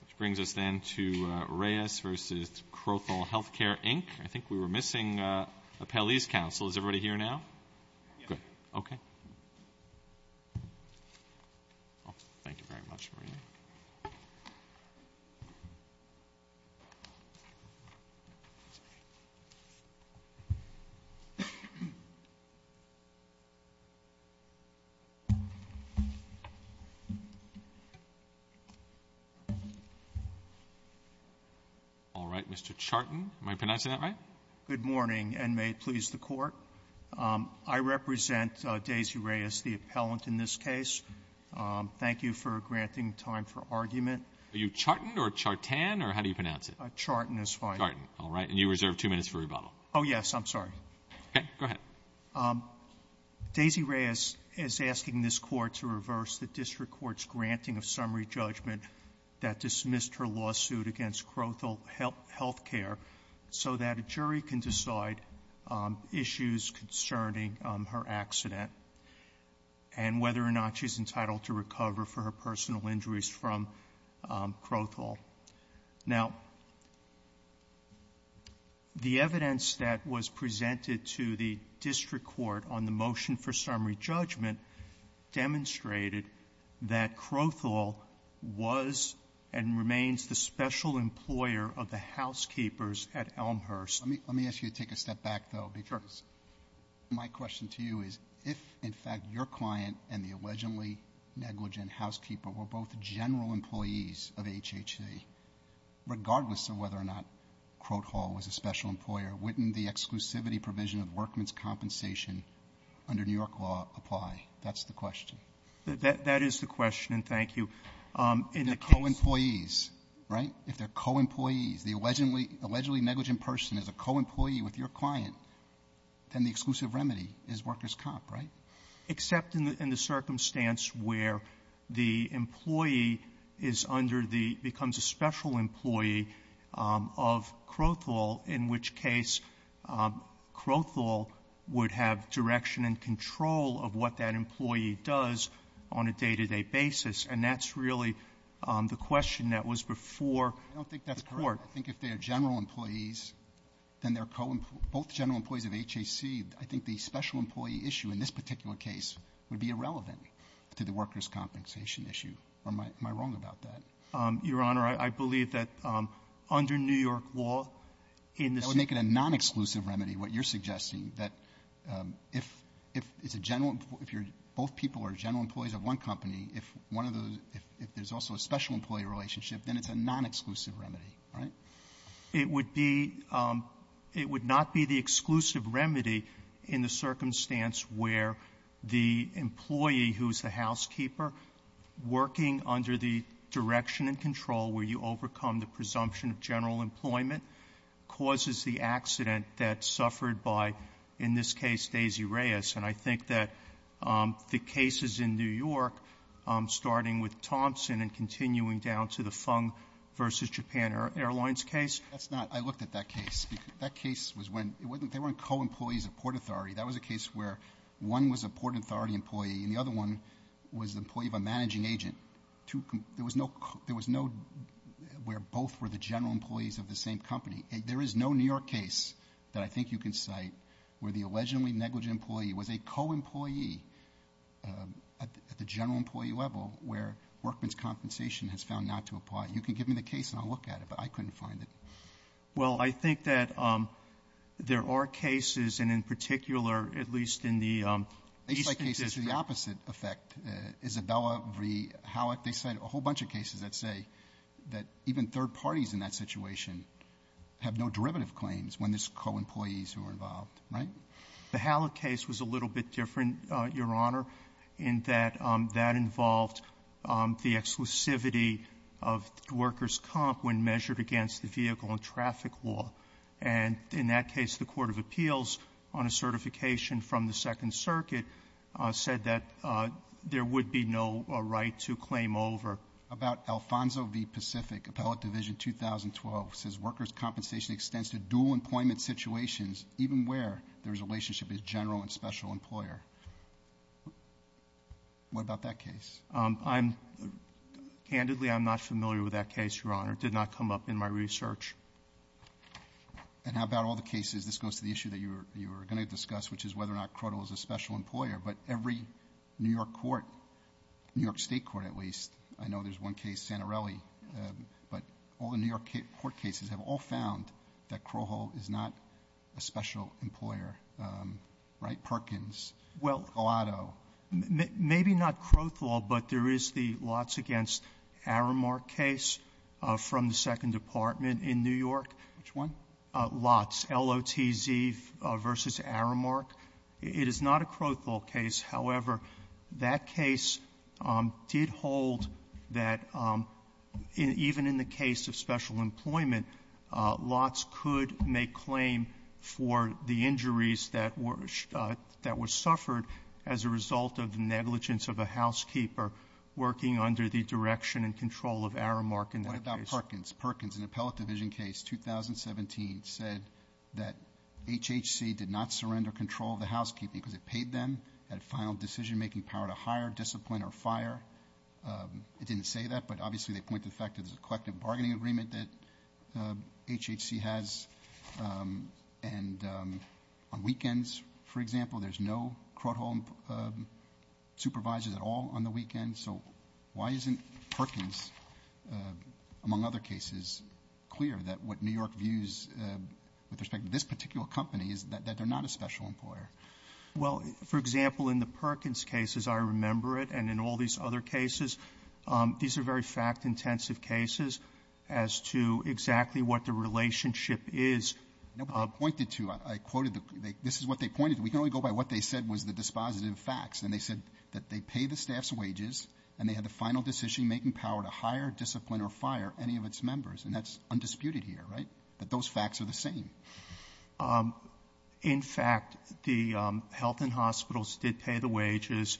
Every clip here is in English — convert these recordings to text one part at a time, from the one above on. Which brings us then to Reyes v. Crothall Healthcare, Inc. I think we were missing Appellee's Council. Is everybody here now? Good. Okay. Thank you very much, Marina. All right, Mr. Charton. Am I pronouncing that right? Good morning, and may it please the Court. I represent Daisy Reyes, the appellant in this case. Thank you for granting time for argument. Are you Charton or Chartan, or how do you pronounce it? Charton is fine. Charton. All right. And you reserve two minutes for rebuttal. Oh, yes. I'm sorry. Okay. Go ahead. Daisy Reyes is asking this Court to reverse the District Court's granting of summary judgment that dismissed her lawsuit against Crothall Healthcare so that a jury can decide issues concerning her accident and whether or not she's entitled to recover for her personal injuries from Crothall. Now, the evidence that was presented to the District Court on the motion for summary judgment demonstrated that Crothall was and remains the special employer of the housekeepers at Elmhurst. Let me ask you to take a step back, though, because my question to you is if, in fact, your client and the allegedly negligent housekeeper were both general employees of HHC, regardless of whether or not Crothall was a special employer, wouldn't the exclusivity provision of workman's compensation under New York law apply? That's the question. That is the question, and thank you. They're co-employees, right? If they're co-employees, the allegedly negligent person is a co-employee with your client, then the exclusive remedy is worker's comp, right? Except in the circumstance where the employee becomes a special employee of Crothall, in which case Crothall would have direction and control of what that employee does on a day-to-day basis, and that's really the question that was before the Court. I don't think that's correct. I think if they're general employees, then they're both general employees of HHC. I think the special employee issue in this particular case would be irrelevant to the worker's compensation issue. Am I wrong about that? Your Honor, I believe that under New York law in this case ---- That would make it a non-exclusive remedy, what you're suggesting, that if both people are general employees of one company, if one of the ---- if there's also a special employee relationship, then it's a non-exclusive remedy, right? It would be ---- it would not be the exclusive remedy in the circumstance where the employee, who is the housekeeper, working under the direction and control where you overcome the presumption of general employment, causes the accident that's suffered by, in this case, Daisy Reyes. And I think that the cases in New York, starting with Thompson and continuing down to the Fung v. Japan Airlines case ---- That's not ---- I looked at that case. That case was when ---- they weren't co-employees of Port Authority. That was a case where one was a Port Authority employee and the other one was an employee of a managing agent. There was no ---- there was no ---- where both were the general employees of the same company. There is no New York case that I think you can cite where the allegedly negligent employee was a co-employee at the general employee level where workman's compensation has found not to apply. You can give me the case and I'll look at it, but I couldn't find it. Well, I think that there are cases, and in particular, at least in the eastern district ---- They cite cases with the opposite effect. Isabella v. Hallock, they cite a whole bunch of cases that say that even third parties in that situation have no derivative claims when there's co-employees who are involved, right? The Hallock case was a little bit different, Your Honor, in that that involved the exclusivity of workers' comp when measured against the vehicle and traffic law. And in that case, the Court of Appeals, on a certification from the Second Circuit, said that there would be no right to claim over. About Alfonso v. Pacific, Appellate Division 2012, it says workers' compensation extends to dual employment situations, even where there is a relationship with a general and special employer. What about that case? Candidly, I'm not familiar with that case, Your Honor. It did not come up in my research. And how about all the cases? This goes to the issue that you were going to discuss, which is whether or not Crowthall is a special employer. But every New York court, New York State court at least, I know there's one case, Santorelli, but all the New York court cases have all found that Crowthall is not a special employer, right? Perkins, Gelato. Maybe not Crowthall, but there is the Lotz v. Aramark case from the Second Department in New York. Which one? Lotz, L-O-T-Z v. Aramark. It is not a Crowthall case. However, that case did hold that even in the case of special employment, Lotz could make claim for the injuries that were suffered as a result of negligence of a housekeeper working under the direction and control of Aramark in that case. What about Perkins? Perkins, an appellate division case, 2017, said that HHC did not surrender control of the housekeeping because it paid them at final decision-making power to hire, discipline, or fire. It didn't say that, but obviously they point to the fact that there's a collective bargaining agreement that HHC has. And on weekends, for example, there's no Crowthall supervisors at all on the weekend. So why isn't Perkins, among other cases, clear that what New York views with respect to this particular company is that they're not a special employer? Well, for example, in the Perkins cases, I remember it, and in all these other cases, these are very fact-intensive cases as to exactly what the relationship is. Nobody pointed to. I quoted the — this is what they pointed to. We can only go by what they said was the dispositive facts. And they said that they pay the staff's wages, and they had the final decision-making power to hire, discipline, or fire any of its members. And that's undisputed here, right? But those facts are the same. In fact, the health and hospitals did pay the wages,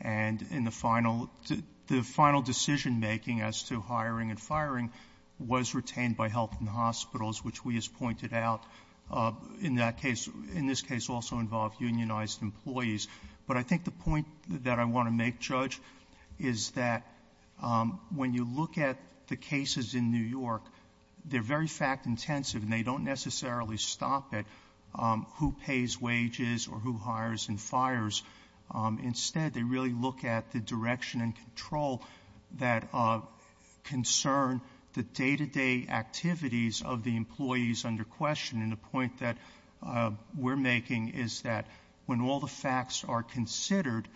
and in the final — the final decision-making as to hiring and firing was retained by health and hospitals, which we, as pointed out, in that case — in this case also involved unionized employees. But I think the point that I want to make, Judge, is that when you look at the cases in New York, they're very fact-intensive, and they don't necessarily stop at who pays wages or who hires and fires. Instead, they really look at the direction and control that concern the day-to-day activities of the employees under question. And the point that we're making is that when all the facts are considered,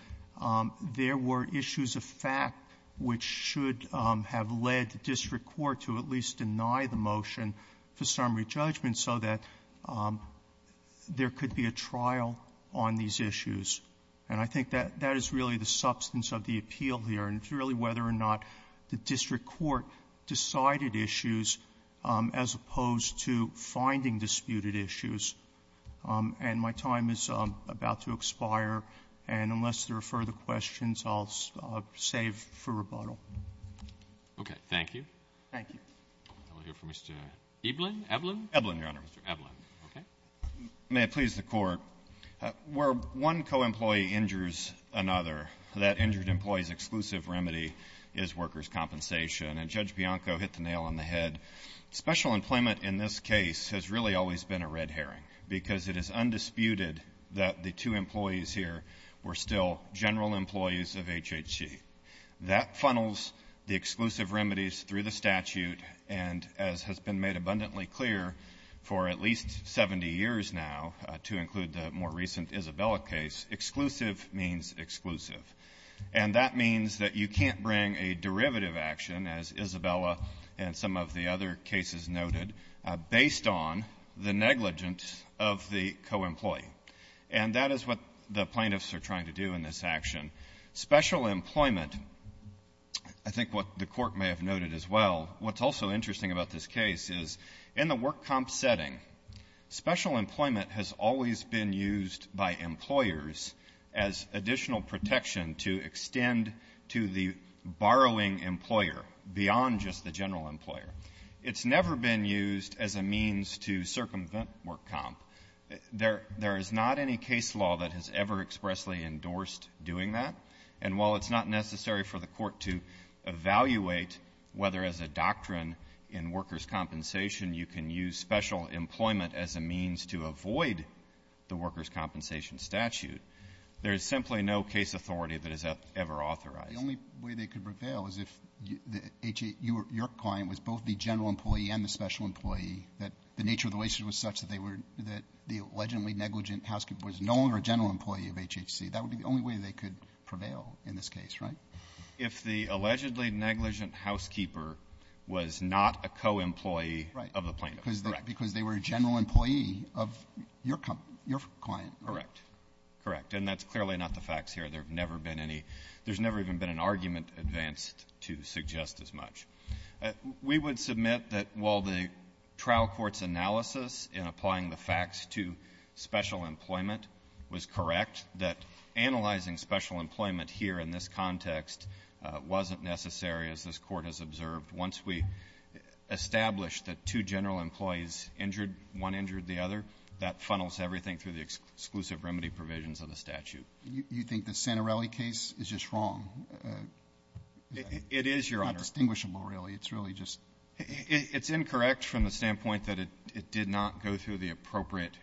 there were issues of fact which should have led the district court to at least deny the motion for summary judgment so that there could be a trial on these issues. And I think that that is really the substance of the appeal here, and it's really whether or not the district court decided issues as opposed to finding disputed issues. And my time is about to expire, and unless there are further questions, I'll save for rebuttal. Roberts. Okay. Thank you. Ebelin. Ebelin, Your Honor. Ebelin. Okay. May it please the Court. Where one co-employee injures another, that injured employee's exclusive remedy is workers' compensation. And Judge Bianco hit the nail on the head. Special employment in this case has really always been a red herring because it is undisputed that the two employees here were still general employees of HHG. That funnels the exclusive remedies through the statute and, as has been made abundantly clear for at least 70 years now, to include the more recent Isabella case, exclusive means exclusive. And that means that you can't bring a derivative action, as Isabella and some of the other cases noted, based on the negligence of the co-employee. And that is what the plaintiffs are trying to do in this action. Special employment, I think what the Court may have noted as well, what's also interesting about this case is in the work comp setting, special employment has always been used by employers as additional protection to extend to the borrowing employer beyond just the general employer. It's never been used as a means to circumvent work comp. There is not any case law that has ever expressly endorsed doing that. And while it's not necessary for the Court to evaluate whether as a doctrine in workers' compensation you can use special employment as a means to avoid the workers' compensation statute, there is simply no case authority that is ever authorized. The only way they could prevail is if your client was both the general employee and the special employee, that the nature of the relationship was such that the allegedly negligent housekeeper was no longer a general employee of HHC. That would be the only way they could prevail in this case, right? If the allegedly negligent housekeeper was not a co-employee of the plaintiff, correct. But because they were a general employee of your client. Correct. Correct. And that's clearly not the facts here. There have never been any — there's never even been an argument advanced to suggest as much. We would submit that while the trial court's analysis in applying the facts to special employment was correct, that analyzing special employment here in this context wasn't necessary, as this Court has observed. Once we establish that two general employees injured, one injured the other, that funnels everything through the exclusive remedy provisions of the statute. You think the Santorelli case is just wrong? It is, Your Honor. It's not distinguishable, really. It's really just — It's incorrect from the standpoint that it did not go through the appropriate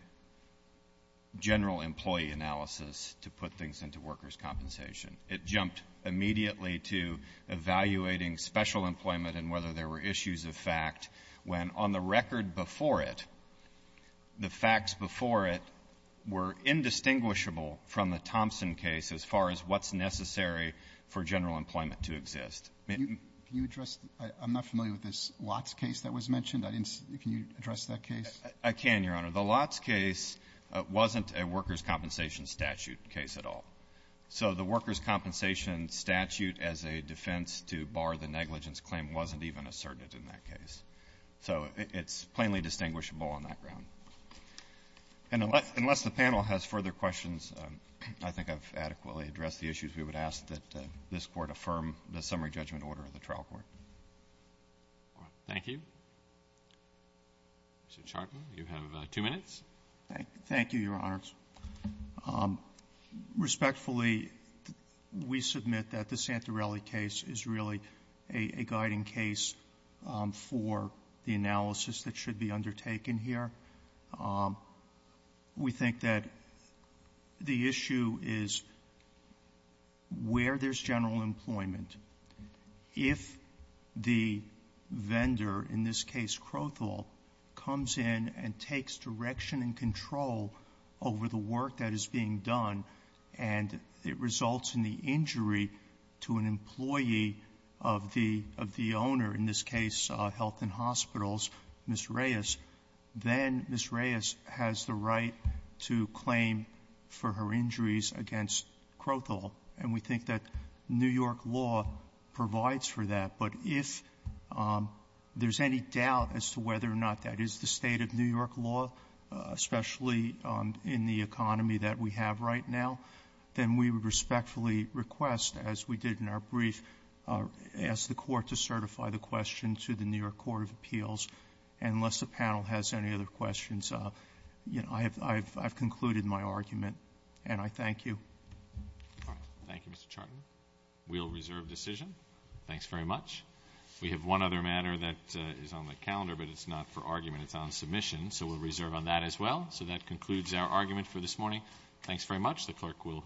general employee analysis to put things into workers' compensation. It jumped immediately to evaluating special employment and whether there were issues of fact, when on the record before it, the facts before it were indistinguishable from the Thompson case as far as what's necessary for general employment to exist. Can you address — I'm not familiar with this Lotz case that was mentioned. I didn't — can you address that case? I can, Your Honor. The Lotz case wasn't a workers' compensation statute case at all. So the workers' compensation statute as a defense to bar the negligence claim wasn't even asserted in that case. So it's plainly distinguishable on that ground. Unless the panel has further questions, I think I've adequately addressed the issues. We would ask that this Court affirm the summary judgment order of the trial court. Thank you. Mr. Chartman, you have two minutes. Thank you, Your Honors. Respectfully, we submit that the Santorelli case is really a guiding case for the analysis that should be undertaken here. We think that the issue is where there's general employment. If the vendor, in this case Crothall, comes in and takes direction and control over the work that is being done and it results in the injury to an employee of the owner, in this case Health and Hospitals, Ms. Reyes, then Ms. Reyes has the right to claim for her injuries against Crothall. And we think that New York law provides for that. But if there's any doubt as to whether or not that is the state of New York law, especially in the economy that we have right now, then we would respectfully request, as we did in our brief, ask the Court to certify the question to the New York Court of Appeals. And unless the panel has any other questions, I've concluded my argument. And I thank you. Thank you, Mr. Chartman. We'll reserve decision. Thanks very much. We have one other matter that is on the calendar, but it's not for argument. It's on submission. So we'll reserve on that as well. So that concludes our argument for this morning. Thanks very much. The Clerk will adjourn the Court.